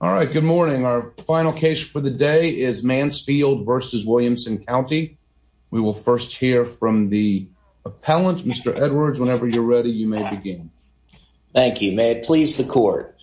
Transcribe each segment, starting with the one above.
All right. Good morning. Our final case for the day is Mansfield v. Williamson County. We will first hear from the appellant. Mr. Edwards, whenever you're ready, you may begin. Thank you. May it please the court.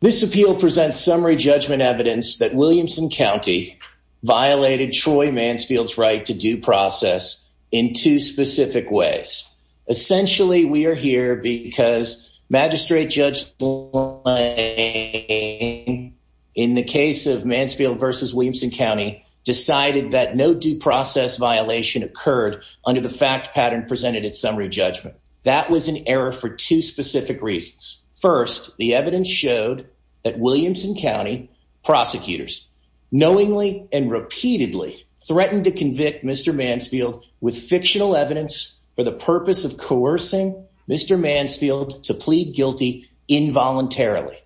This appeal presents summary judgment evidence that Williamson County violated Troy Mansfield's right to due process in two specific ways. Essentially, we are here because magistrate judge in the case of Mansfield v. Williamson County decided that no due process violation occurred under the fact pattern presented its summary judgment. That was an error for two specific reasons. First, the evidence showed that Williamson County prosecutors knowingly and repeatedly threatened to convict Mr Mansfield with fictional evidence for the purpose of coercing Mr Mansfield to plead guilty involuntarily.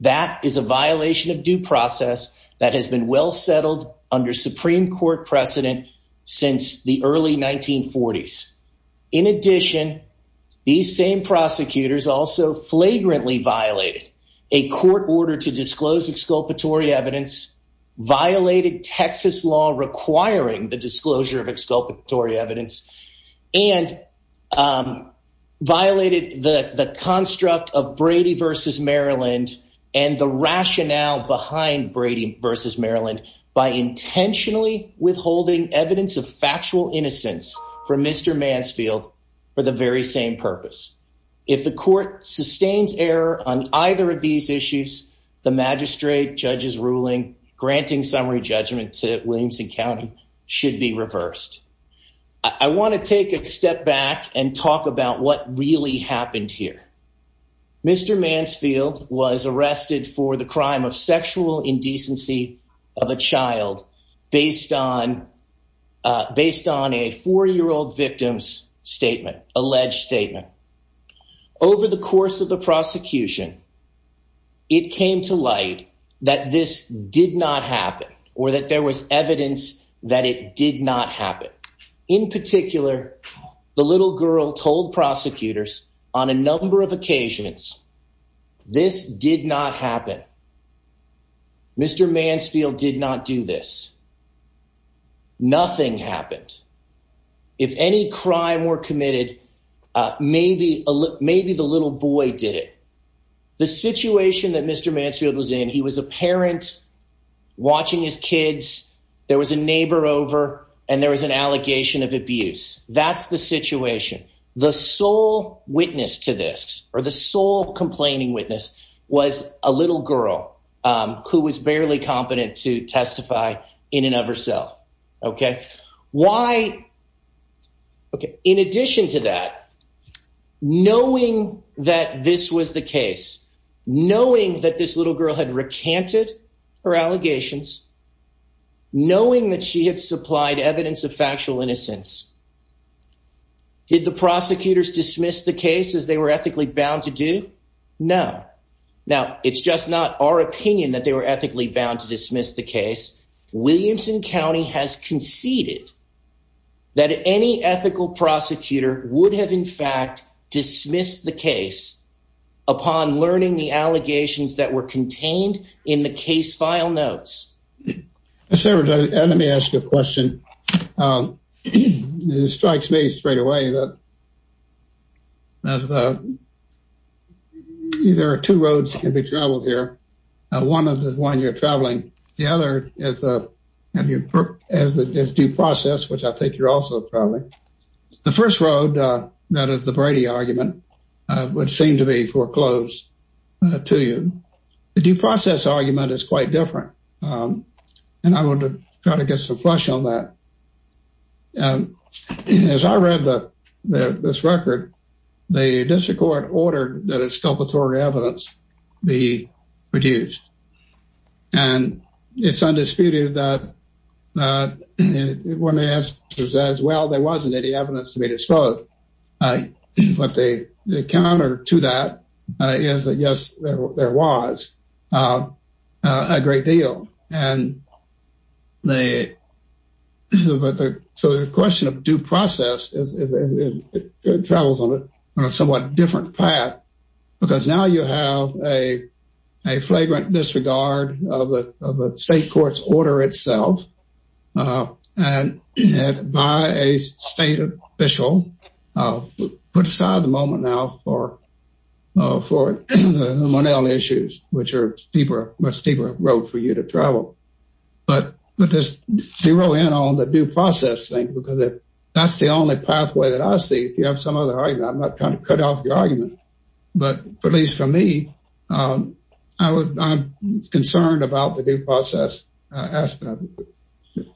That is a violation of due process that has been well settled under Supreme Court precedent since the early 1940s. In addition, these same prosecutors also flagrantly violated a court order to disclose exculpatory evidence, violated Texas law requiring the disclosure of exculpatory evidence and, um, violated the construct of Brady v. Maryland and the rationale behind Brady v. Maryland by intentionally withholding evidence of factual innocence for Mr Mansfield for the very same purpose. If the court sustains error on either of to Williamson County should be reversed. I want to take a step back and talk about what really happened here. Mr Mansfield was arrested for the crime of sexual indecency of a child based on based on a four year old victim's statement. Alleged statement. Over the course of the prosecution, it came to that this did not happen or that there was evidence that it did not happen. In particular, the little girl told prosecutors on a number of occasions this did not happen. Mr Mansfield did not do this. Nothing happened. If any crime were committed, maybe maybe the little boy did it. The situation that Mr Mansfield was in, he was a parent watching his kids. There was a neighbor over and there was an allegation of abuse. That's the situation. The sole witness to this or the sole complaining witness was a little girl who was barely competent to testify in and of herself. Okay, why? Okay. In addition to that, knowing that this was the case, knowing that this little girl had recanted her allegations, knowing that she had supplied evidence of factual innocence, did the prosecutors dismiss the cases they were ethically bound to do? No. Now it's just not our opinion that they were ethically bound to dismiss the that any ethical prosecutor would have, in fact, dismissed the case upon learning the allegations that were contained in the case. File notes. Several. Let me ask you a question. Um, it strikes me straight away that that, uh, there are two roads can be traveled here. One of the one you're traveling. The other is, uh, have you as the due process, which I think you're also probably the first road that is the Brady argument would seem to be foreclosed to you. The due process argument is quite different. Um, and I want to try to get some flesh on that. Um, as I read the this record, the district court ordered that it's it's undisputed that when they asked as well, there wasn't any evidence to be disclosed. But they counter to that is that, yes, there was, uh, a great deal. And they so the question of due process is it travels on it on a somewhat different path? Because now you have a flagrant disregard of the state court's order itself. Uh, and by a state official put aside the moment now for for money on the issues which are deeper, much deeper road for you to travel. But with this zero in on the due process thing, because that's the only pathway that I see. If you have some other argument, I'm not trying to cut off your argument. But at least for me, um, I was concerned about the due process aspect.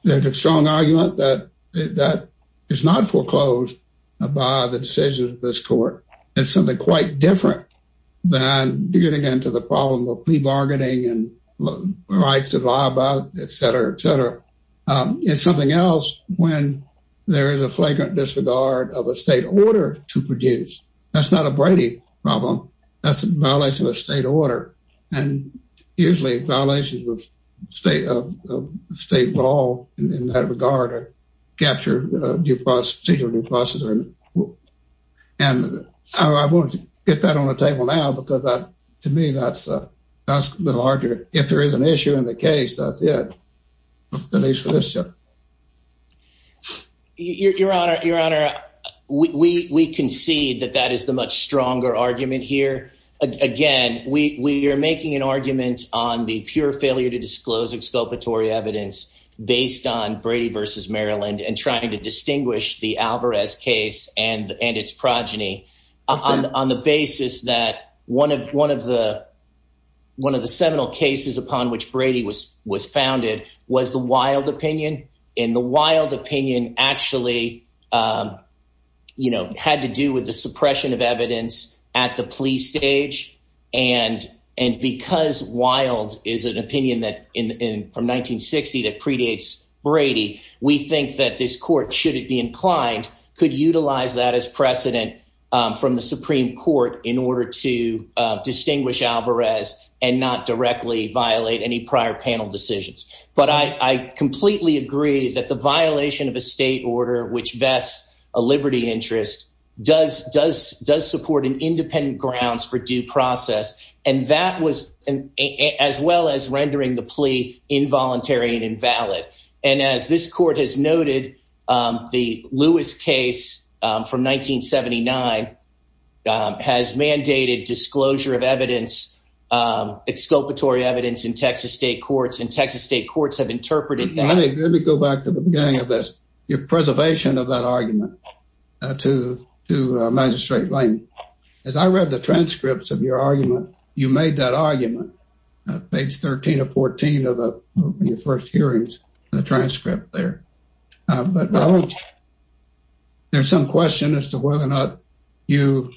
There's a strong argument that that is not foreclosed by the decisions of this court. It's something quite different than getting into the problem of plea bargaining and rights to lie about, et cetera, et cetera. Um, it's something else when there is a flagrant disregard of the state order to produce. That's not a Brady problem. That's a violation of state order and usually violations of state of state law in that regard or capture due process procedure due process. And I won't get that on the table now because to me, that's, uh, that's the larger. If there is an issue in the case, that's it. At least for sure. Your Honor, Your Honor, we concede that that is the much stronger argument here. Again, we're making an argument on the pure failure to disclose exculpatory evidence based on Brady versus Maryland and trying to distinguish the Alvarez case and its progeny on the basis that one of one of the one of the seminal cases upon which Brady was was founded was the wild opinion in the wild opinion actually, um, you know, had to do with the suppression of evidence at the police stage. And and because wild is an opinion that in from 1960 that predates Brady, we think that this court, should it be inclined, could utilize that as precedent from the Supreme Court in order to distinguish Alvarez and not directly violate any prior panel decisions. But I completely agree that the violation of a state order which vests a liberty interest does does does support an independent grounds for due process. And that was as well as rendering the plea involuntary and invalid. And as this court has noted, the Lewis case from 1979 has mandated disclosure of evidence, exculpatory evidence in Texas state courts, and Texas state courts have interpreted that. Let me go back to the beginning of this, your preservation of that argument to to Magistrate Lane. As I read the transcripts of your argument, you made that argument, page 13 or 14 of the first hearings, the transcript there. But there's some question as to whether or not you,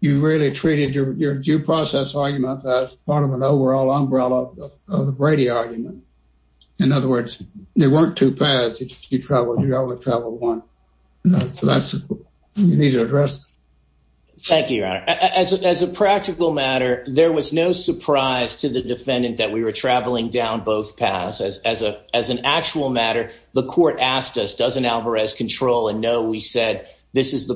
you really treated your due process argument as part of an overall umbrella of the Brady argument. In other words, there weren't two paths, you travel, you only travel one. So that's, you need to address. Thank you, Your Honor. As a practical matter, there was no surprise to the defendant that we were traveling down both paths. As a as an actual matter, the court asked us, doesn't Alvarez control? And no, we said, this is the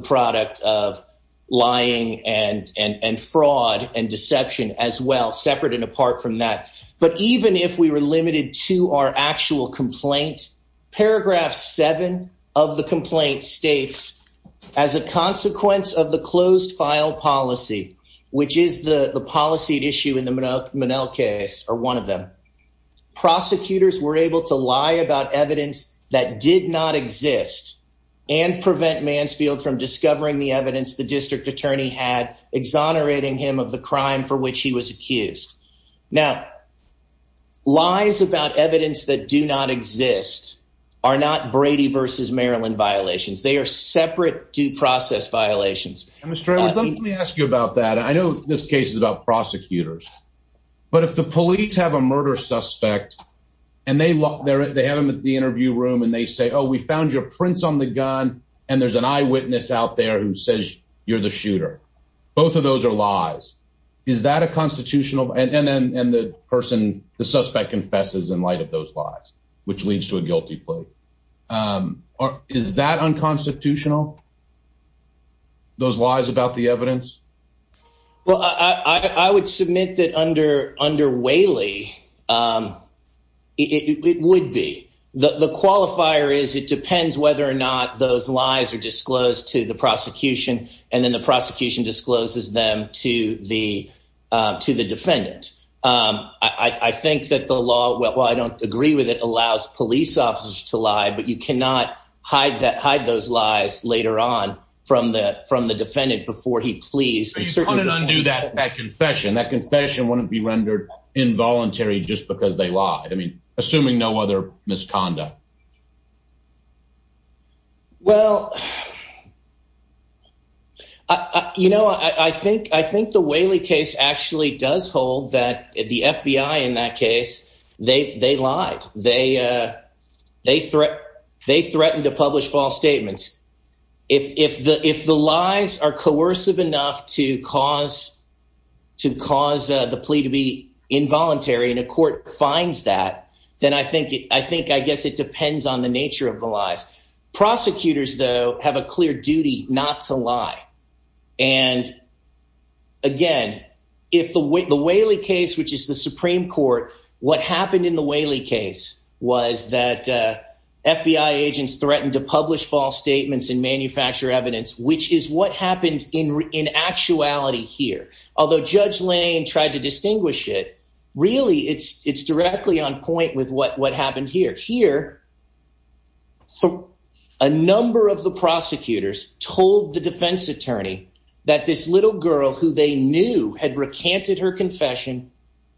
deception as well, separate and apart from that. But even if we were limited to our actual complaint, paragraph seven of the complaint states, as a consequence of the closed file policy, which is the policy issue in the Menel case, or one of them, prosecutors were able to lie about evidence that did not exist and prevent Mansfield from discovering the evidence the district crime for which he was accused. Now, lies about evidence that do not exist, are not Brady versus Maryland violations, they are separate due process violations. And Mr. Edwards, let me ask you about that. I know this case is about prosecutors. But if the police have a murder suspect, and they look there, they have them at the interview room, and they say, Oh, we found your prints on the gun. And there's an eyewitness out there who says you're the shooter. Both of those are lies. Is that a constitutional and the person the suspect confesses in light of those lies, which leads to a guilty plea? Or is that unconstitutional? Those lies about the evidence? Well, I would submit that under under Whaley, it would be the qualifier is it depends whether or not those lies are disclosed to the prosecution, and then the prosecution discloses them to the, to the defendant. I think that the law well, I don't agree with it allows police officers to lie, but you cannot hide that hide those lies later on from the from the defendant before he please. He's going to undo that that confession, that confession wouldn't be rendered involuntary just because they lied. I mean, assuming no other misconduct. Yeah. Well, you know, I think I think the Whaley case actually does hold that the FBI in that case, they they lied, they, they threat, they threatened to publish false statements. If the if the lies are coercive enough to cause to cause the plea to be involuntary in a court finds that, then I think I think I guess it depends on the nature of the lies. prosecutors, though, have a clear duty not to lie. And, again, if the way the Whaley case, which is the Supreme Court, what happened in the Whaley case was that FBI agents threatened to publish false statements and manufacture evidence, which is what happened in in actuality here, although Judge Lane tried to distinguish it, really, it's it's here. So a number of the prosecutors told the defense attorney that this little girl who they knew had recanted her confession,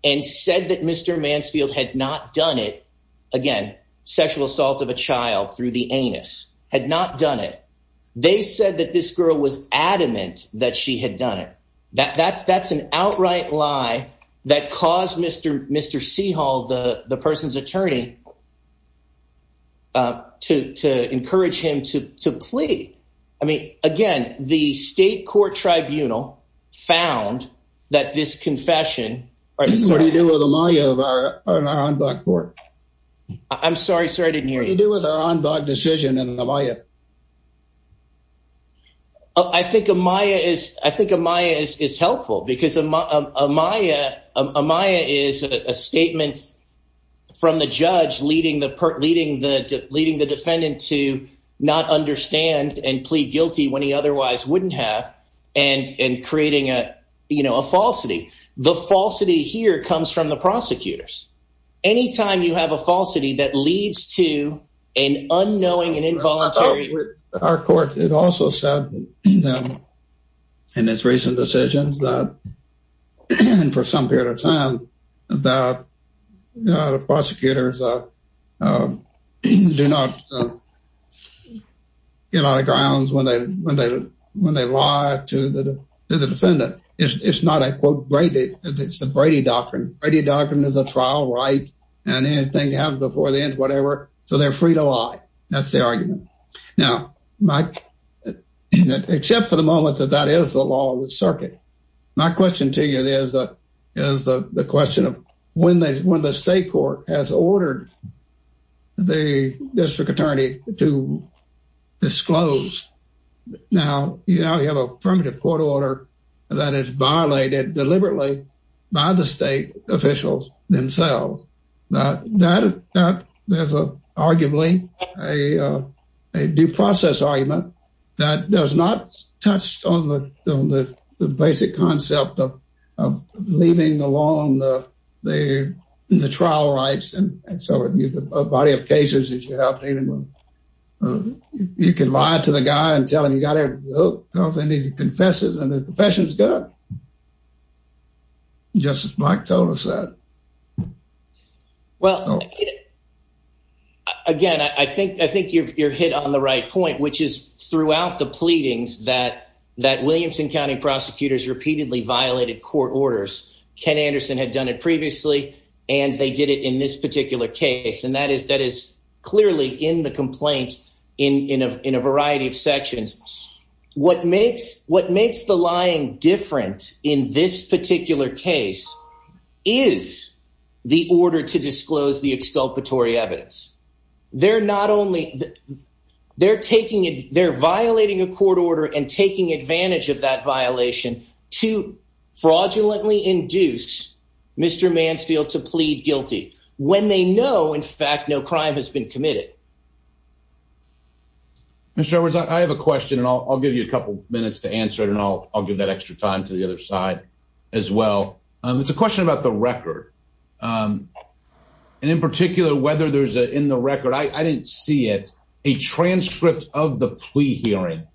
and said that Mr. Mansfield had not done it. Again, sexual assault of a child through the anus had not done it. They said that this girl was adamant that she had done it. That that's that's an outright lie that caused Mr. Mr. Seahall, the person's attorney to encourage him to plead. I mean, again, the state court tribunal found that this confession, or what do you do with Amaya of our on board? I'm sorry, sorry, I didn't hear you do with our on board decision and Amaya. I think Amaya is I think Amaya is helpful because Amaya Amaya is a judge leading the leading the leading the defendant to not understand and plead guilty when he otherwise wouldn't have and and creating a, you know, a falsity. The falsity here comes from the prosecutors. Anytime you have a falsity that leads to an unknowing and involuntary our court it also said in his recent decisions that for some period of time that the prosecutors do not get out of grounds when they when they when they lie to the defendant. It's not a quote Brady. It's the Brady Doctrine. Brady Doctrine is a trial right. And anything you have before the end, whatever. So they're free to lie. That's the argument. Now, Mike, except for the moment that that is the law of the circuit. My question to you is, is the question of when they when the state court has ordered the district attorney to disclose. Now, you know, you have a primitive court order that is violated deliberately by the state officials themselves. Now that that there's a arguably a due process argument that does not touch on the basic concept of leaving alone the trial rights and so a body of cases that you have. You can lie to the guy and tell him you got to go off and he confesses and the confession is good. Justice Black told us that. Well, again, I think I think you're hit on the right point, which is throughout the pleadings that that Williamson County prosecutors repeatedly violated court orders. Ken Anderson had done it previously, and they did it in this particular case. And that is that is clearly in the complaint in a variety of makes. What makes the lying different in this particular case is the order to disclose the exculpatory evidence. They're not only they're taking it, they're violating a court order and taking advantage of that violation to fraudulently induce Mr Mansfield to plead guilty when they know, in fact, no crime has been committed. Yeah, Mr Edwards, I have a question and I'll give you a couple minutes to answer it and I'll give that extra time to the other side as well. It's a question about the record. Um, and in particular, whether there's in the record, I didn't see it. A transcript of the plea hearing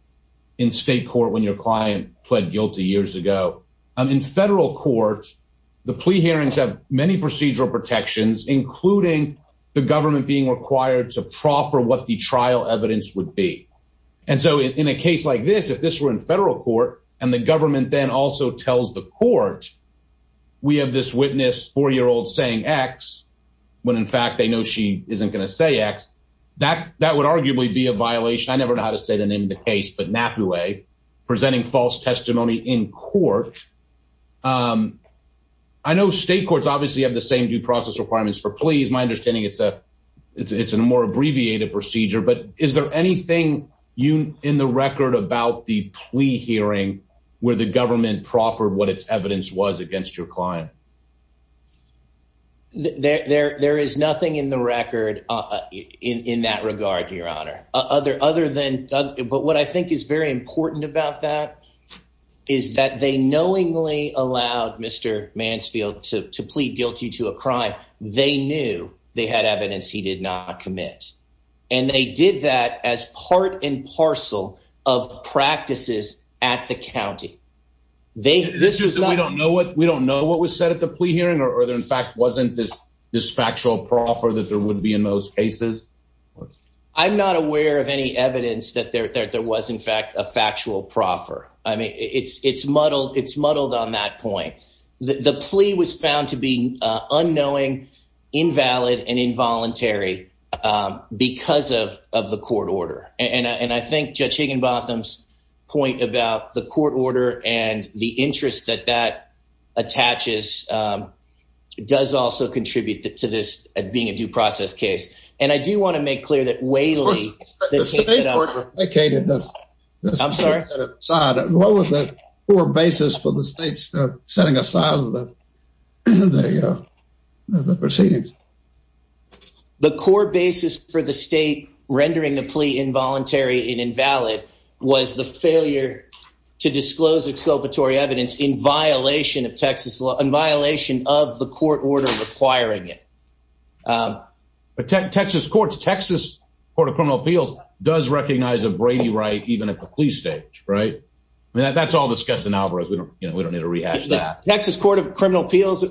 in state court when your client pled guilty years ago in federal court. The plea hearings have many proffer what the trial evidence would be. And so in a case like this, if this were in federal court and the government then also tells the court we have this witness four year old saying X when, in fact, they know she isn't gonna say X. That that would arguably be a violation. I never know how to say the name of the case, but not the way presenting false testimony in court. Um, I know state courts obviously have the same due process requirements for please. My understanding. It's a it's a more abbreviated procedure. But is there anything you in the record about the plea hearing where the government proffered what its evidence was against your client? There is nothing in the record in that regard, Your Honor. Other than but what I think is very important about that is that they knowingly allowed Mr Mansfield to plead guilty to a crime. They knew they had evidence he did not commit, and they did that as part and parcel of practices at the county. They this is just we don't know what we don't know what was said at the plea hearing, or there, in fact, wasn't this this factual proffer that there would be in those cases. I'm not aware of any evidence that there was, in fact, a plea was found to be unknowing, invalid and involuntary because of of the court order. And I think Judge Higginbotham's point about the court order and the interest that that attaches, um, does also contribute to this being a due process case. And I do want to make clear that Waley vacated this. I'm sorry. What was that for basis for the state's setting aside with the proceedings? The core basis for the state rendering the plea involuntary and invalid was the failure to disclose exculpatory evidence in violation of Texas law in violation of the court order requiring it. But Texas courts, Texas Court of Criminal Appeals does recognize a Brady right even at the plea stage, right? That's all discussed in Alvarez. We don't need to rehash that. Texas Court of Criminal Appeals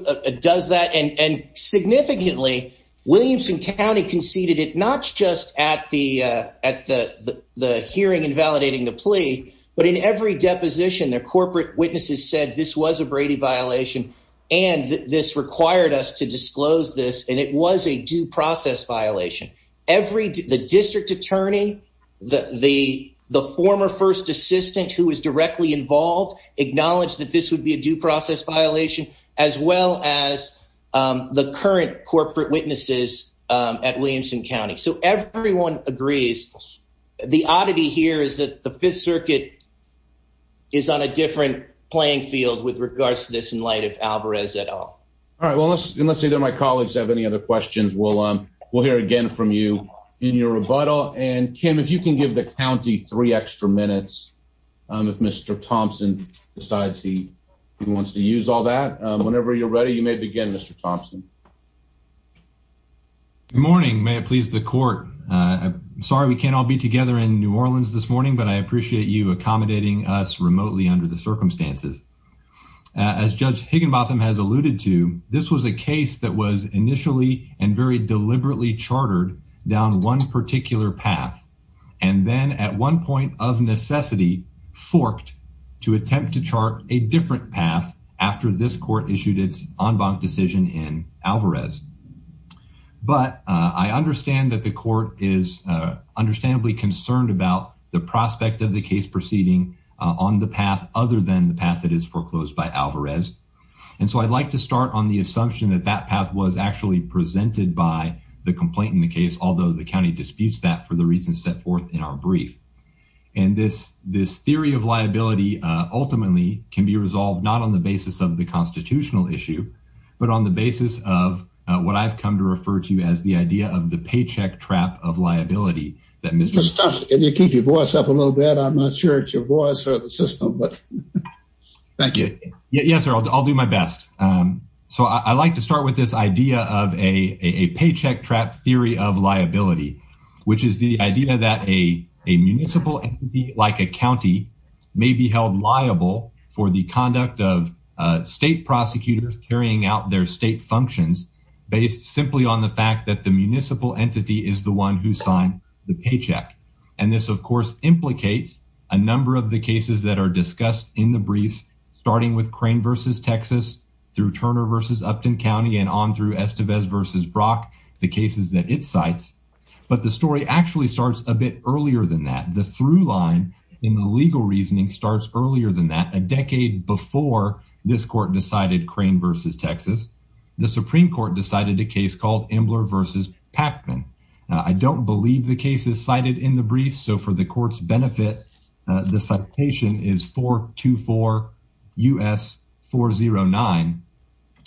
does that. And and significantly, Williamson County conceded it not just at the at the hearing invalidating the plea, but in every deposition, their corporate witnesses said this was a Brady violation and this required us to disclose this. And it was a due process violation. Every the district attorney, the former first assistant who was directly involved, acknowledged that this would be a due process violation as well as the current corporate witnesses at Williamson County. So everyone agrees. The oddity here is that the Fifth Circuit is on a different playing field with regards to this in light of Alvarez at all. All right, well, let's let's say that my colleagues have any other questions. We'll we'll hear again from you in your rebuttal. And Kim, if you can give the county three extra minutes, if Mr Thompson decides he wants to use all that whenever you're ready, you may begin, Mr Thompson. Good morning. May it please the court. Sorry we can't all be together in New Orleans this morning, but I appreciate you accommodating us remotely under the circumstances. As Judge Higginbotham has alluded to, this was a case that was initially and very deliberately chartered down one particular path and then at one point of necessity forked to attempt to chart a different path after this court issued its en banc decision in Alvarez. But I understand that the court is understandably concerned about the prospect of the case proceeding on the path other than the path that is foreclosed by Alvarez. And that path was actually presented by the complaint in the case, although the county disputes that for the reasons set forth in our brief. And this this theory of liability ultimately can be resolved not on the basis of the constitutional issue, but on the basis of what I've come to refer to as the idea of the paycheck trap of liability that Mr stuff. If you keep your voice up a little bit, I'm not sure it's your voice or the system, but thank you. Yes, sir. I'll do my best. Um, so I like to start with this idea of a paycheck trap theory of liability, which is the idea that a municipal entity like a county may be held liable for the conduct of state prosecutors carrying out their state functions based simply on the fact that the municipal entity is the one who signed the paycheck. And this, of course, implicates a number of the cases that are discussed in the briefs, starting with crane versus texas through Turner versus Upton County and on through Estevez versus Brock, the cases that it cites. But the story actually starts a bit earlier than that. The through line in the legal reasoning starts earlier than that. A decade before this court decided crane versus texas, the Supreme Court decided a case called Embler versus Pacman. I don't believe the case is cited in the brief. So for the court's benefit, the citation is 4 to 4 U. S. 409.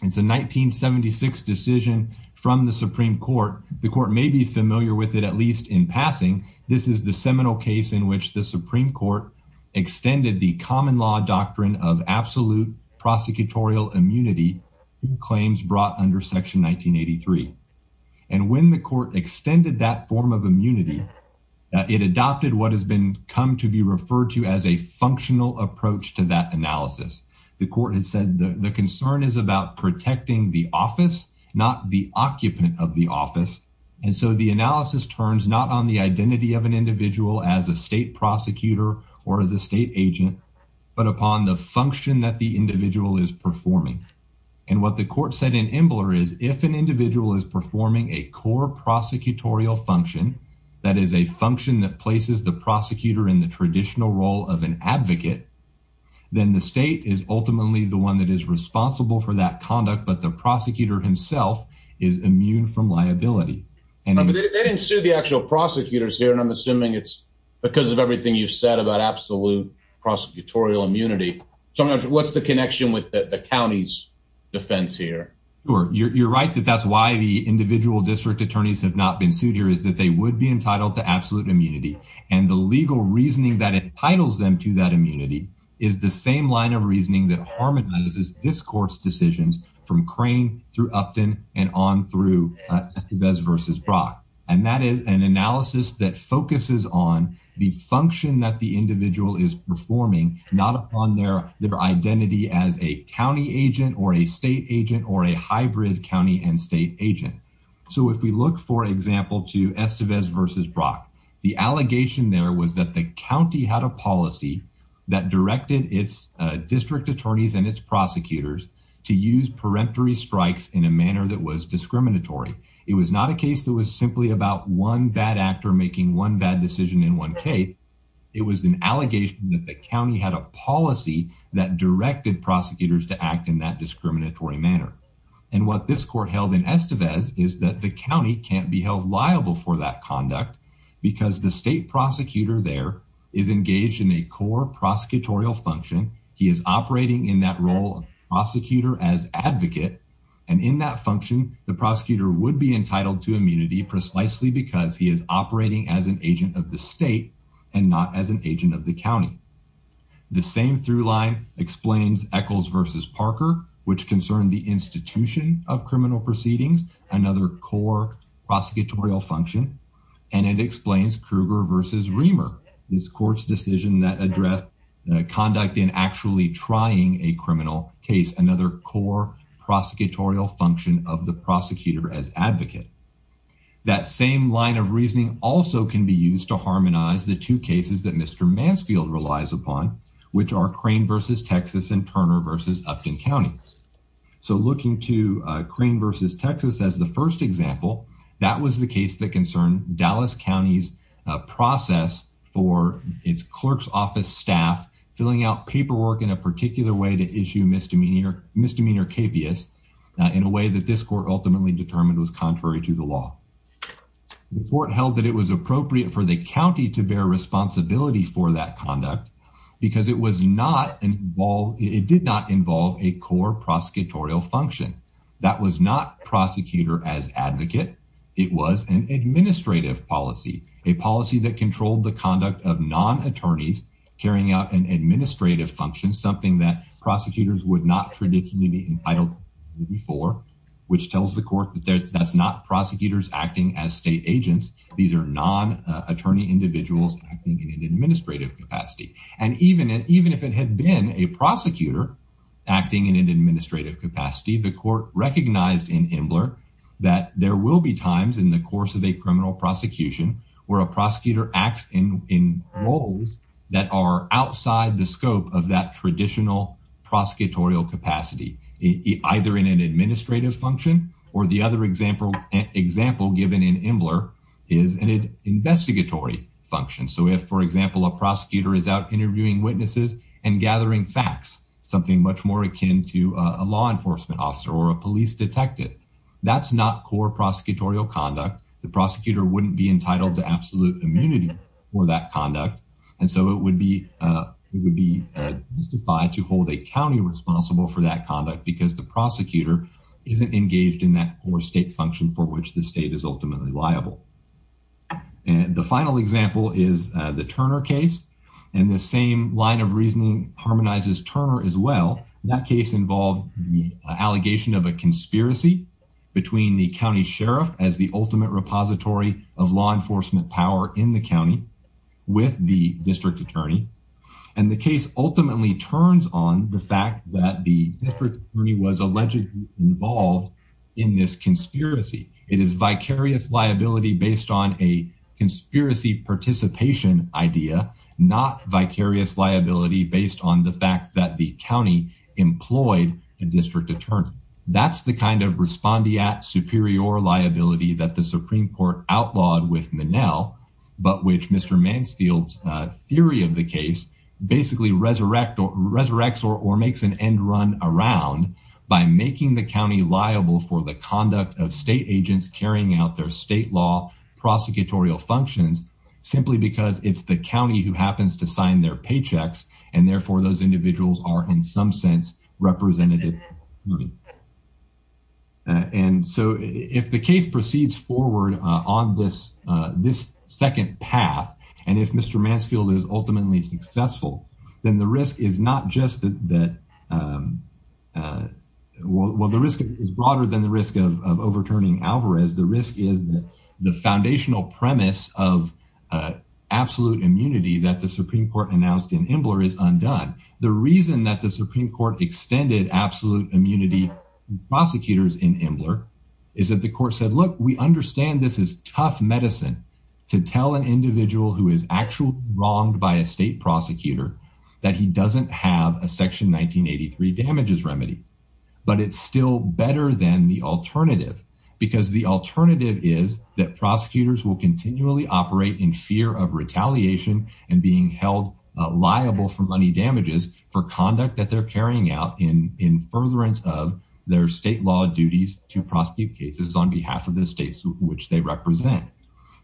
It's a 1976 decision from the Supreme Court. The court may be familiar with it, at least in passing. This is the seminal case in which the Supreme Court extended the common law doctrine of absolute prosecutorial immunity claims brought under Section 1983. And when the court extended that form of immunity, it adopted what has been come to be referred to as a functional approach to that analysis. The court has said the concern is about protecting the office, not the occupant of the office. And so the analysis turns not on the identity of an individual as a state prosecutor or as a state agent, but upon the function that the individual is performing. And what the court said in Embler is if an individual is performing a core prosecutorial function that is a function that places the prosecutor in the traditional role of an advocate, then the state is ultimately the one that is responsible for that conduct. But the prosecutor himself is immune from liability, and they didn't sue the actual prosecutors here. And I'm assuming it's because of everything you said about absolute prosecutorial immunity. So what's the connection with the county's defense here? You're right that that's why the individual district attorneys have not been sued here, is that they would be entitled to absolute immunity. And the legal reasoning that entitles them to that immunity is the same line of reasoning that harmonizes this court's decisions from crane through Upton and on through this versus Brock. And that is an analysis that focuses on the function that the individual is performing, not upon their their identity as a county rid county and state agent. So if we look, for example, to Estevez versus Brock, the allegation there was that the county had a policy that directed its district attorneys and its prosecutors to use peremptory strikes in a manner that was discriminatory. It was not a case that was simply about one bad actor making one bad decision in one case. It was an allegation that the county had a policy that directed prosecutors to act in that this court held in Estevez is that the county can't be held liable for that conduct because the state prosecutor there is engaged in a core prosecutorial function. He is operating in that role of prosecutor as advocate, and in that function, the prosecutor would be entitled to immunity precisely because he is operating as an agent of the state and not as an agent of the county. The same through line explains Eccles versus Parker, which concerned the institution of criminal proceedings, another core prosecutorial function, and it explains Kruger versus Riemer. This court's decision that address conduct in actually trying a criminal case, another core prosecutorial function of the prosecutor as advocate. That same line of reasoning also can be used to harmonize the two cases that Mr Mansfield relies upon, which are crane versus Texas and Turner versus Upton County. So looking to crane versus Texas as the first example, that was the case that concerned Dallas County's process for its clerk's office staff filling out paperwork in a particular way to issue misdemeanor misdemeanor capious in a way that this court ultimately determined was contrary to the law. The court held that it was appropriate for the county to bear responsibility for that conduct because it was not involved. It did not involve a core prosecutorial function that was not prosecutor as advocate. It was an administrative policy, a policy that controlled the conduct of non attorneys carrying out an administrative function, something that prosecutors would not traditionally be entitled before, which tells the court that that's not prosecutors acting as state agents. These air non attorney individuals acting in an administrative capacity. And even even if it had been a acting in an administrative capacity, the court recognized in Himmler that there will be times in the course of a criminal prosecution where a prosecutor acts in in roles that are outside the scope of that traditional prosecutorial capacity, either in an administrative function or the other example example given in Himmler is an investigatory function. So if, for example, a prosecutor is out interviewing witnesses and gathering facts, something much more akin to a law enforcement officer or a police detective, that's not core prosecutorial conduct. The prosecutor wouldn't be entitled to absolute immunity for that conduct. And so it would be, uh, it would be, uh, by to hold a county responsible for that conduct because the prosecutor isn't engaged in that or state function for which the state is ultimately liable. And the final example is the Turner case, and the same line of reasoning harmonizes Turner as well. That case involved the allegation of a conspiracy between the county sheriff as the ultimate repository of law enforcement power in the county with the district attorney. And the case ultimately turns on the fact that the district attorney was allegedly involved in this conspiracy. It is a patient idea, not vicarious liability based on the fact that the county employed the district attorney. That's the kind of respondee at superior liability that the Supreme Court outlawed with Manel, but which Mr Mansfield's theory of the case basically resurrect or resurrects or makes an end run around by making the county liable for the conduct of state functions simply because it's the county who happens to sign their paychecks, and therefore those individuals are, in some sense, represented. And so if the case proceeds forward on this, this second path, and if Mr Mansfield is ultimately successful, then the risk is not just that, um, uh, well, the risk is broader than the risk of overturning Alvarez. The risk is the foundational premise of, uh, absolute immunity that the Supreme Court announced in Imbler is undone. The reason that the Supreme Court extended absolute immunity prosecutors in Imbler is that the court said, Look, we understand this is tough medicine to tell an individual who is actually wronged by a state prosecutor that he doesn't have a section 1983 damages remedy, but it's still better than the alternative because the that prosecutors will continually operate in fear of retaliation and being held liable for money damages for conduct that they're carrying out in in furtherance of their state law duties to prosecute cases on behalf of the states which they represent.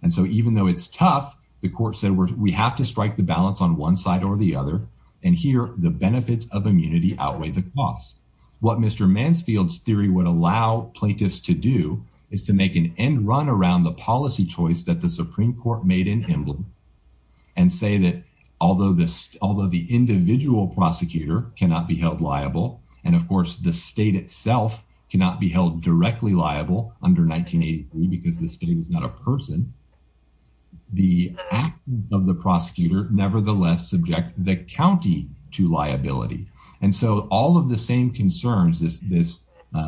And so even though it's tough, the court said, We have to strike the balance on one side or the other. And here the benefits of immunity outweigh the cost. What Mr Mansfield's theory would allow plaintiffs to do is to make an end run around the policy choice that the Supreme Court made in Imbler and say that although this although the individual prosecutor cannot be held liable, and, of course, the state itself cannot be held directly liable under 1983 because the state is not a person. The of the prosecutor, nevertheless, subject the county to liability. And so all of the same concerns this this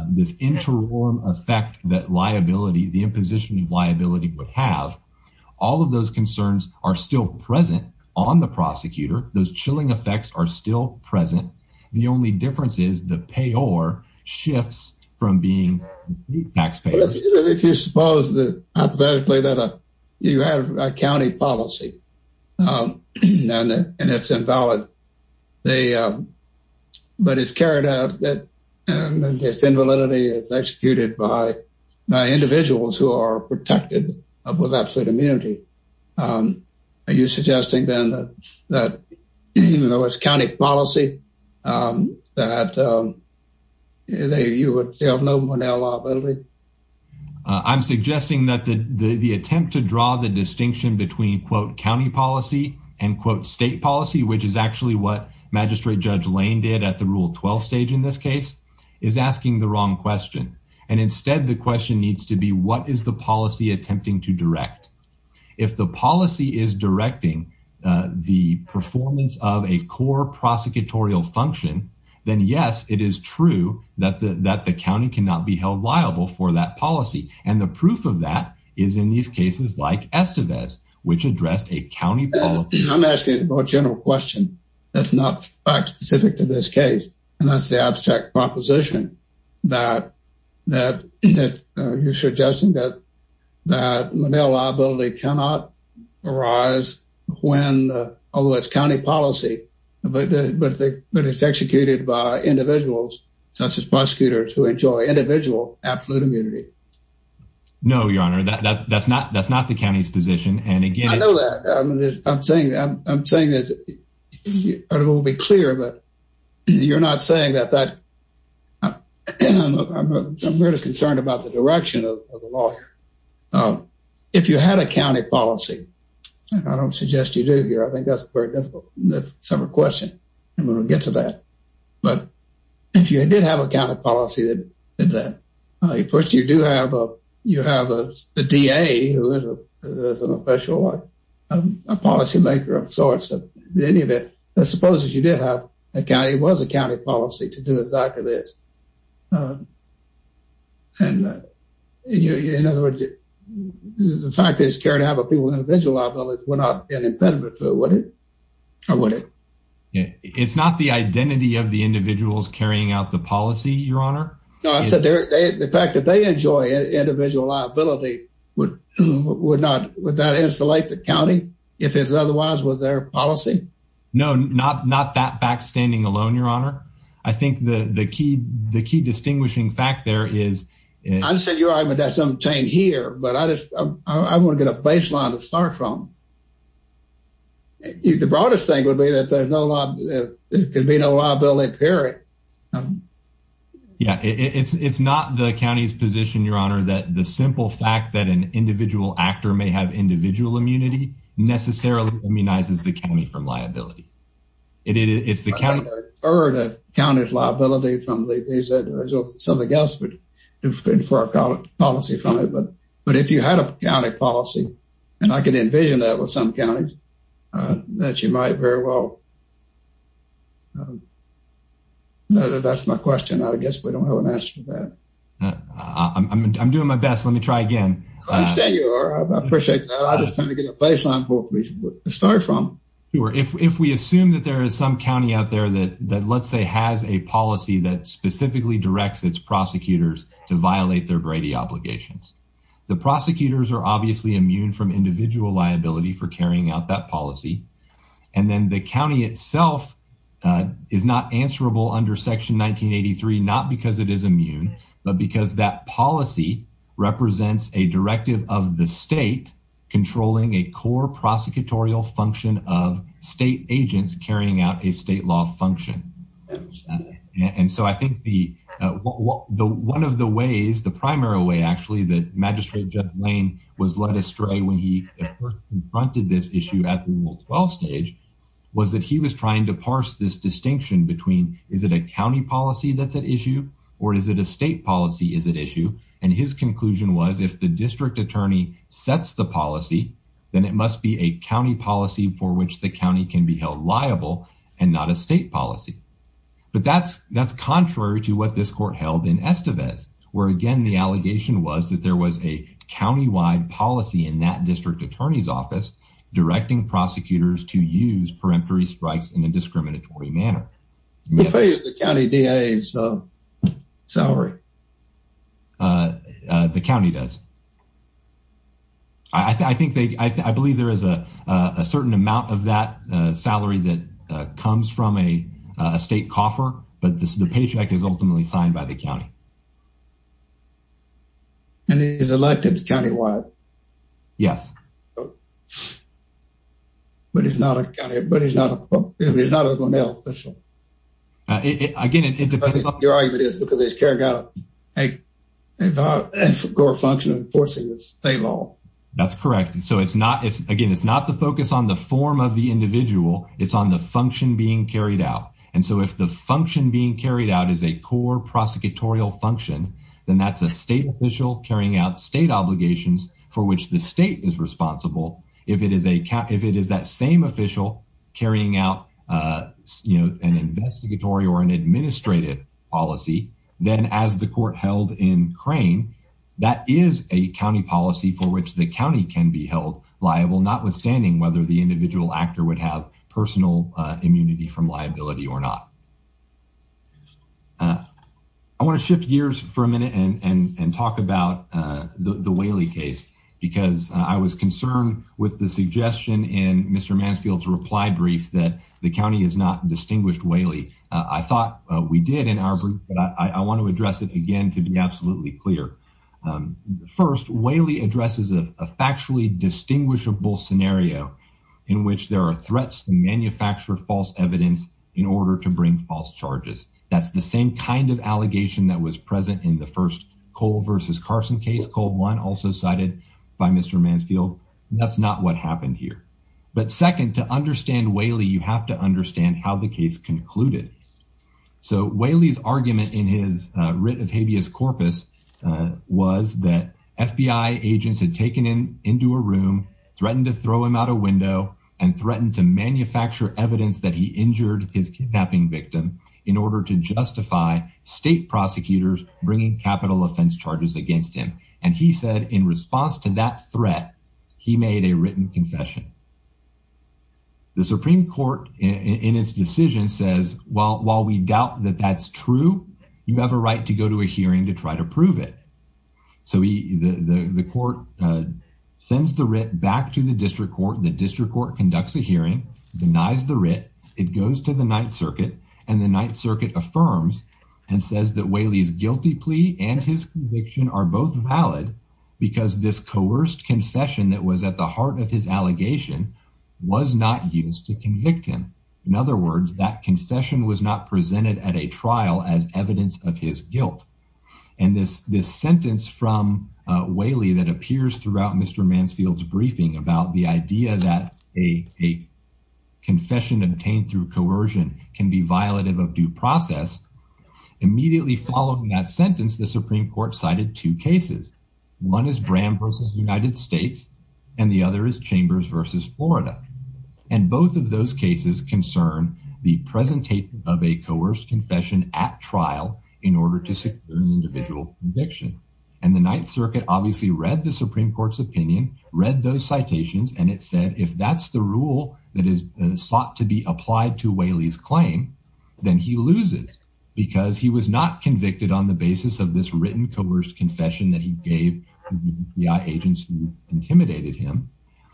this interim effect that liability, the imposition of liability would have all of those concerns are still present on the prosecutor. Those chilling effects are still present. The only difference is the payor shifts from being taxpayer. If you suppose that you have a county policy and it's invalid, they but it's carried out that this invalidity is executed by individuals who are protected with absolute immunity. Are you suggesting then that even though it's county policy, um, that, um, you would have no Monell liability? I'm suggesting that the attempt to draw the quote county policy and quote state policy, which is actually what Magistrate Judge Lane did at the Rule 12 stage in this case, is asking the wrong question. And instead, the question needs to be what is the policy attempting to direct? If the policy is directing the performance of a core prosecutorial function, then yes, it is true that that the county cannot be held liable for that policy. And the proof of that is in these cases like Estevez, which addressed a county. I'm asking a more general question. That's not specific to this case, and that's the abstract proposition that that that you're suggesting that that Monell liability cannot arise when, although it's county policy, but it's executed by individuals such as prosecutors who enjoy individual absolute immunity. No, Your Honor, that's not. That's not the county's position. And again, I know that I'm saying. I'm saying that it will be clear, but you're not saying that that I'm really concerned about the direction of the law. Um, if you had a county policy, I don't suggest you do here. I think that's very difficult. That's a question. I'm gonna get to that. But if you did have a kind of policy that that, of course, you do have. You have a D. A. Who is an official, a policymaker of sorts. In any event, I suppose that you did have a guy. It was a county policy to do exactly this. And in other words, the fact that it's carried out by people with individual liabilities would not be an impediment to it, would it? Or would it? It's not the identity of the individuals carrying out the policy, Your Honor. I said the fact that they enjoy individual liability would would not would not insulate the county if it's otherwise was their policy. No, not not that backstanding alone, Your Honor. I think the key, the key distinguishing fact there is I just said your argument that's obtained here, but I just I want to get a baseline to start from. The broadest thing would be that there's no lot. There could be no liability period. Yeah, it's it's not the county's position, Your Honor, that the simple fact that an individual actor may have individual immunity necessarily immunizes the county from liability. It's the county or the county's liability from the these that something else would do for our policy from it. But but if you had a county policy and I could envision that with some counties that you might very well that's my question. I guess we don't have an answer to that. I'm doing my best. Let me try again. I appreciate that. I just trying to get a baseline for police to start from. If we assume that there is some county out there that that let's say has a policy that specifically directs its prosecutors to violate their Brady obligations, the prosecutors are obviously immune from individual liability for carrying out that policy. And then the county itself is not answerable under Section 1983, not because it is immune, but because that policy represents a directive of the state controlling a core prosecutorial function of state agents carrying out a state law function. And so I think the one of the ways the primary way actually that Magistrate Jeff Lane was led astray when he confronted this issue at 12 stage was that he was trying to parse this distinction between is it a county policy that's at issue or is it a state policy? Is it issue? And his conclusion was, if the district attorney sets the policy, then it must be a county policy for which the county can be held liable and not a state policy. But that's that's contrary to what this court held in Estevez, where again, the allegation was that there was a county wide policy in that three strikes in a discriminatory manner. The county D. A. So sorry, uh, the county does. I think I believe there is a certain amount of that salary that comes from a state coffer. But the paycheck is ultimately signed by the county and he's elected countywide. Yes. But it's not a guy, but he's not. He's not a male official. I get it. Your argument is because he's carried out a core function of enforcing the state law. That's correct. So it's not again. It's not the focus on the form of the individual. It's on the function being carried out. And so if the function being carried out is a core prosecutorial function, then that's a state official carrying out state obligations for which the state is responsible. If it is a cap, if it is that same official carrying out, uh, you know, an investigatory or an administrative policy, then as the court held in crane, that is a county policy for which the county can be held liable, notwithstanding whether the individual actor would have personal immunity from liability or not. Uh, I want to shift gears for a minute and talk about the Whaley case because I was concerned with the suggestion in Mr Mansfield's reply brief that the county is not distinguished Whaley. I thought we did in our group, but I want to address it again to be absolutely clear. Um, first, Whaley addresses of a factually distinguishable scenario in which there are threats to manufacture false evidence in order to bring false charges. That's the same kind of allegation that was present in the first Cole versus Carson case. Cold one also cited by Mr Mansfield. That's not what happened here. But second, to understand Whaley, you have to understand how the case concluded. So Whaley's argument in his writ of habeas corpus was that FBI agents had taken him into a room, threatened to throw him out a window and threatened to manufacture evidence that he injured his kidnapping victim in order to justify state prosecutors bringing capital offense charges against him. And he said, in response to that threat, he made a written confession. The Supreme Court in its decision says, Well, while we doubt that that's true, you have a right to go to a hearing to try to prove it. So the court sends the court conducts a hearing denies the writ. It goes to the Ninth Circuit, and the Ninth Circuit affirms and says that Whaley's guilty plea and his conviction are both valid because this coerced confession that was at the heart of his allegation was not used to convict him. In other words, that confession was not presented at a trial as evidence of his guilt. And this this sentence from Whaley that appears throughout Mr Mansfield's briefing about the idea that a confession obtained through coercion can be violative of due process immediately following that sentence, the Supreme Court cited two cases. One is Bram versus United States, and the other is Chambers versus Florida. And both of those cases concern the presentation of a coerced confession at trial in order to secure an individual conviction. And the Ninth Circuit obviously read the Supreme Court's opinion, read those citations, and it said if that's the rule that is sought to be applied to Whaley's claim, then he loses because he was not convicted on the basis of this written coerced confession that he gave the FBI agents who intimidated him.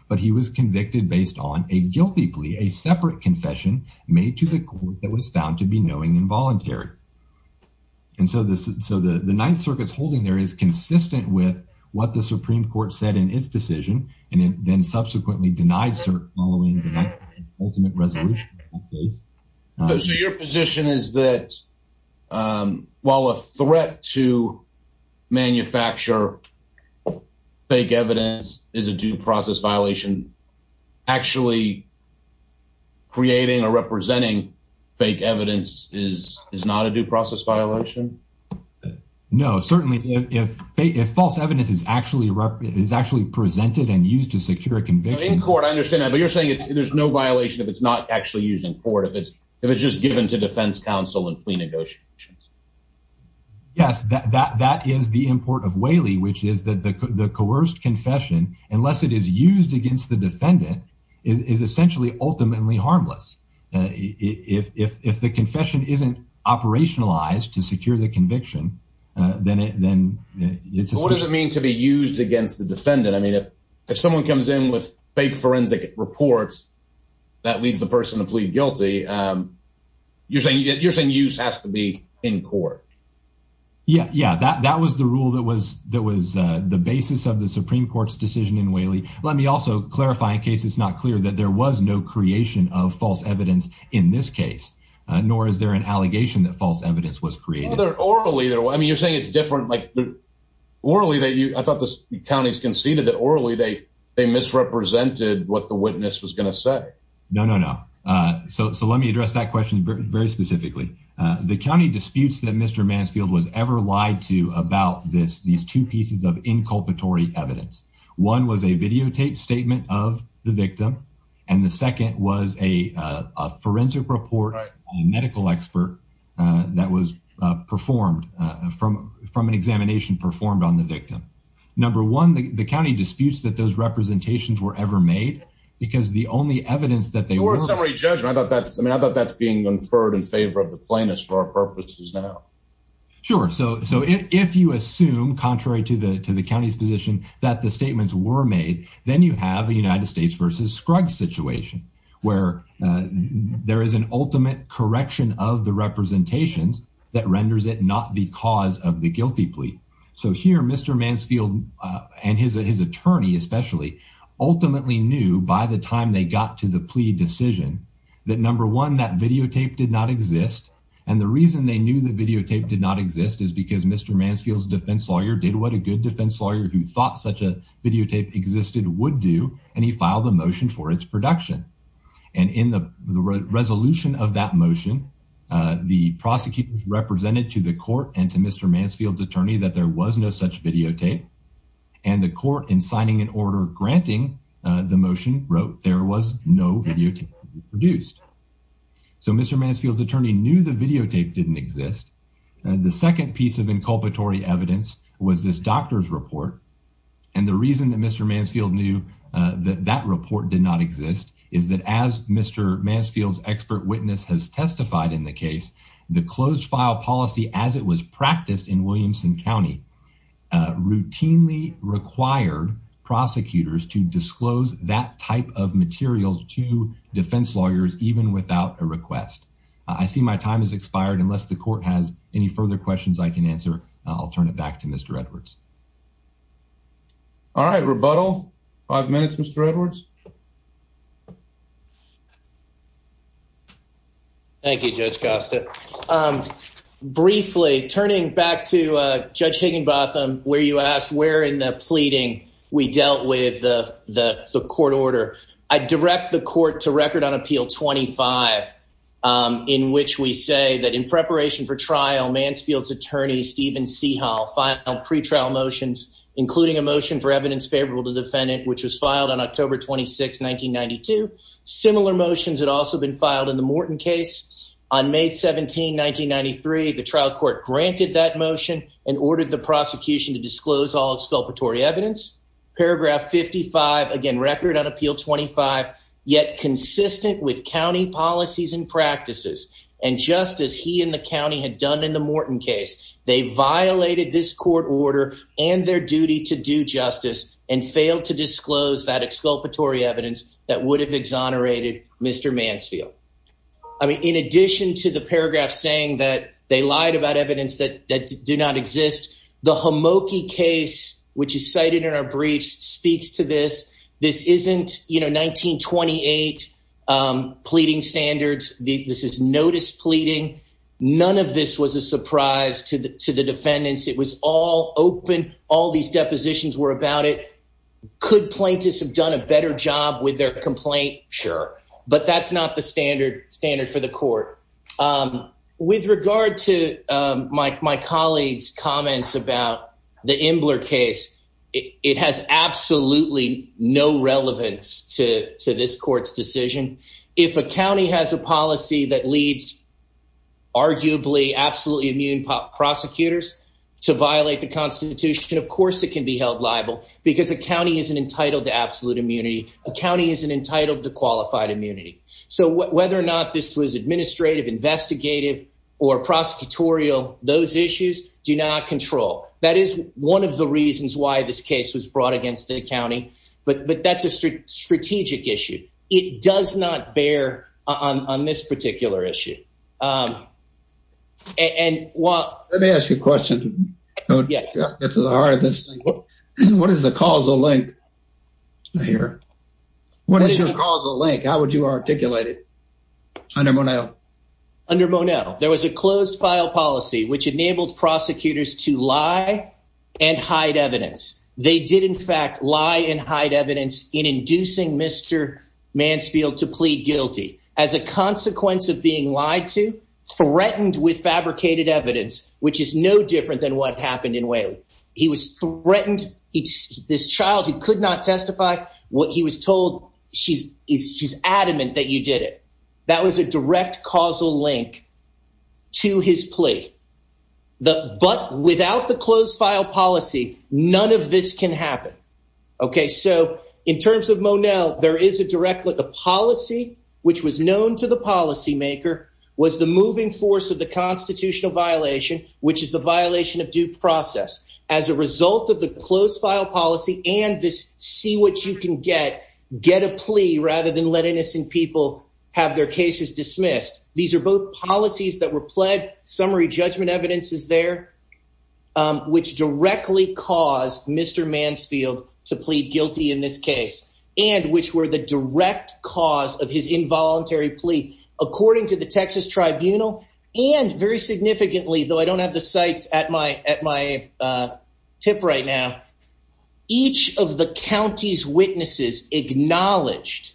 But he was convicted based on a guilty plea, a separate confession made to the court that was found to be knowing involuntary. And so the Ninth Circuit's holding there is consistent with what the Supreme Court said in its decision, and then subsequently denied cert following the Ninth Circuit's ultimate resolution in that case. So your position is that while a threat to manufacture fake evidence is a due process violation, actually creating or representing fake evidence is not a due process violation? No, certainly. If false evidence is actually presented and used to secure a conviction... In court, I understand that. But you're saying there's no violation if it's not actually used in court, if it's just given to defense counsel and plea negotiations? Yes, that is the import of Whaley, which is that the coerced confession, unless it is used against the defendant, is essentially ultimately harmless. If the to secure the conviction, then it's... What does it mean to be used against the defendant? I mean, if someone comes in with fake forensic reports, that leads the person to plead guilty. You're saying use has to be in court? Yeah, that was the rule that was the basis of the Supreme Court's decision in Whaley. Let me also clarify, in case it's not clear, that there was no creation of false evidence in this case, nor is there an allegation that false evidence Well, they're orally... I mean, you're saying it's different... Orally, I thought the counties conceded that orally they misrepresented what the witness was going to say. No, no, no. So let me address that question very specifically. The county disputes that Mr. Mansfield was ever lied to about these two pieces of inculpatory evidence. One was a videotaped statement of the victim, and the second was a forensic report by a medical expert that was performed from an examination performed on the victim. Number one, the county disputes that those representations were ever made, because the only evidence that they were... You weren't summary judge. I mean, I thought that's being inferred in favor of the plaintiffs for our purposes now. Sure. So if you assume, contrary to the county's position, that the statements were made, then you have a United States versus Scruggs situation, where there is an ultimate correction of the representations that renders it not because of the guilty plea. So here, Mr. Mansfield and his attorney, especially, ultimately knew by the time they got to the plea decision, that number one, that videotape did not exist. And the reason they knew the videotape did not exist is because Mr. Mansfield's defense lawyer did what a good defense lawyer who thought such a videotape existed would do, and he filed a motion for its production. And in the resolution of that motion, the prosecutor represented to the court and to Mr. Mansfield's attorney that there was no such videotape. And the court, in signing an order granting the motion, wrote there was no videotape produced. So Mr. Mansfield's attorney knew the videotape didn't exist. The second piece of inculpatory evidence was this doctor's report. And the reason that Mr. Mansfield knew that that report did not exist is that as Mr. Mansfield's expert witness has testified in the case, the closed file policy, as it was practiced in Williamson County, routinely required prosecutors to disclose that type of material to defense lawyers, even without a request. I see my time has any further questions I can answer. I'll turn it back to Mr. Edwards. All right, rebuttal. Five minutes, Mr. Edwards. Thank you, Judge Costa. Briefly, turning back to Judge Higginbotham, where you asked where in the pleading we dealt with the court order, I direct the court to record on Appeal 25, in which we say that in preparation for trial, Mansfield's attorney, Stephen Seahall, filed pretrial motions, including a motion for evidence favorable to the defendant, which was filed on October 26, 1992. Similar motions had also been filed in the Morton case. On May 17, 1993, the trial court granted that motion and ordered the prosecution to disclose all exculpatory evidence. Paragraph 55, again, record on with county policies and practices. And just as he and the county had done in the Morton case, they violated this court order and their duty to do justice and failed to disclose that exculpatory evidence that would have exonerated Mr. Mansfield. I mean, in addition to the paragraph saying that they lied about evidence that do not exist, the Homoki case, which is cited in our briefs, speaks to this. This isn't 1928 pleading standards. This is notice pleading. None of this was a surprise to the defendants. It was all open. All these depositions were about it. Could plaintiffs have done a better job with their complaint? Sure. But that's not the standard for the court. With regard to my colleague's the Imbler case, it has absolutely no relevance to this court's decision. If a county has a policy that leads arguably absolutely immune prosecutors to violate the Constitution, of course it can be held liable because a county isn't entitled to absolute immunity. A county isn't entitled to qualified immunity. So whether or not this was administrative, investigative, or prosecutorial, those issues do not control. That is one of the reasons why this case was brought against the county. But that's a strategic issue. It does not bear on this particular issue. Let me ask you a question. What is the causal link here? What is your under Monet? There was a closed file policy which enabled prosecutors to lie and hide evidence. They did in fact lie and hide evidence in inducing Mr. Mansfield to plead guilty. As a consequence of being lied to, threatened with fabricated evidence, which is no different than what happened in Whaley. He was threatened. This child who could not testify, what he was told, she's adamant that you did it. That was a direct causal link to his plea. But without the closed file policy, none of this can happen. So in terms of Monet, there is a direct link. The policy which was known to the policymaker was the moving force of the constitutional violation, which is the violation of due process. As a result of the get a plea rather than let innocent people have their cases dismissed. These are both policies that were pled summary judgment evidence is there, which directly caused Mr. Mansfield to plead guilty in this case, and which were the direct cause of his involuntary plea. According to the Texas Tribunal, and very significantly, though I don't have the sites at my tip right now, each of the county's witnesses acknowledged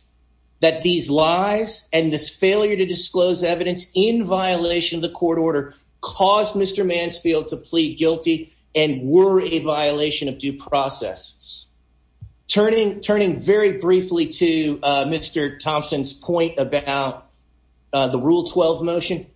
that these lies and this failure to disclose evidence in violation of the court order caused Mr. Mansfield to plead guilty and were a violation of due process. Turning very briefly to Mr. Thompson's point about the Rule 12 motion,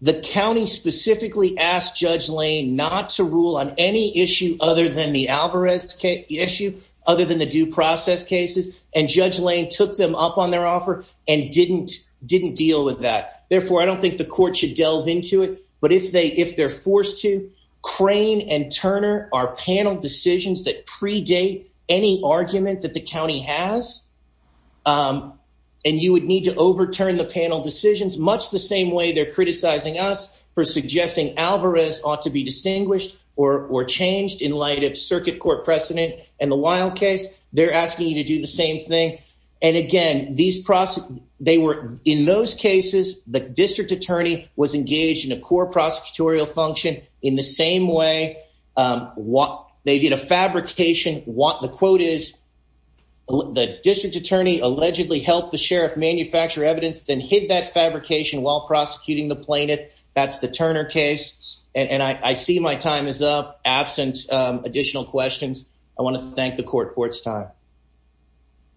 the county specifically asked Judge Lane not to rule on any issue other than the Alvarez issue, other than the due process cases, and Judge Lane took them up on their offer and didn't deal with that. Therefore, I don't think the court should delve into it. But if they're forced to, Crane and Turner are panel decisions that predate any argument that the panel decisions, much the same way they're criticizing us for suggesting Alvarez ought to be distinguished or changed in light of circuit court precedent and the Wilde case, they're asking you to do the same thing. And again, in those cases, the district attorney was engaged in a core prosecutorial function in the same way they did a fabrication. The quote is, the district attorney allegedly helped the sheriff manufacture evidence, then hid that fabrication while prosecuting the plaintiff. That's the Turner case. And I see my time is up. Absent additional questions, I want to thank the court for its time.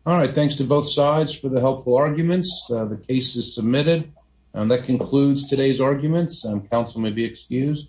All right. Thanks to both sides for the helpful arguments. The case is submitted. And that concludes today's arguments. Council may be excused.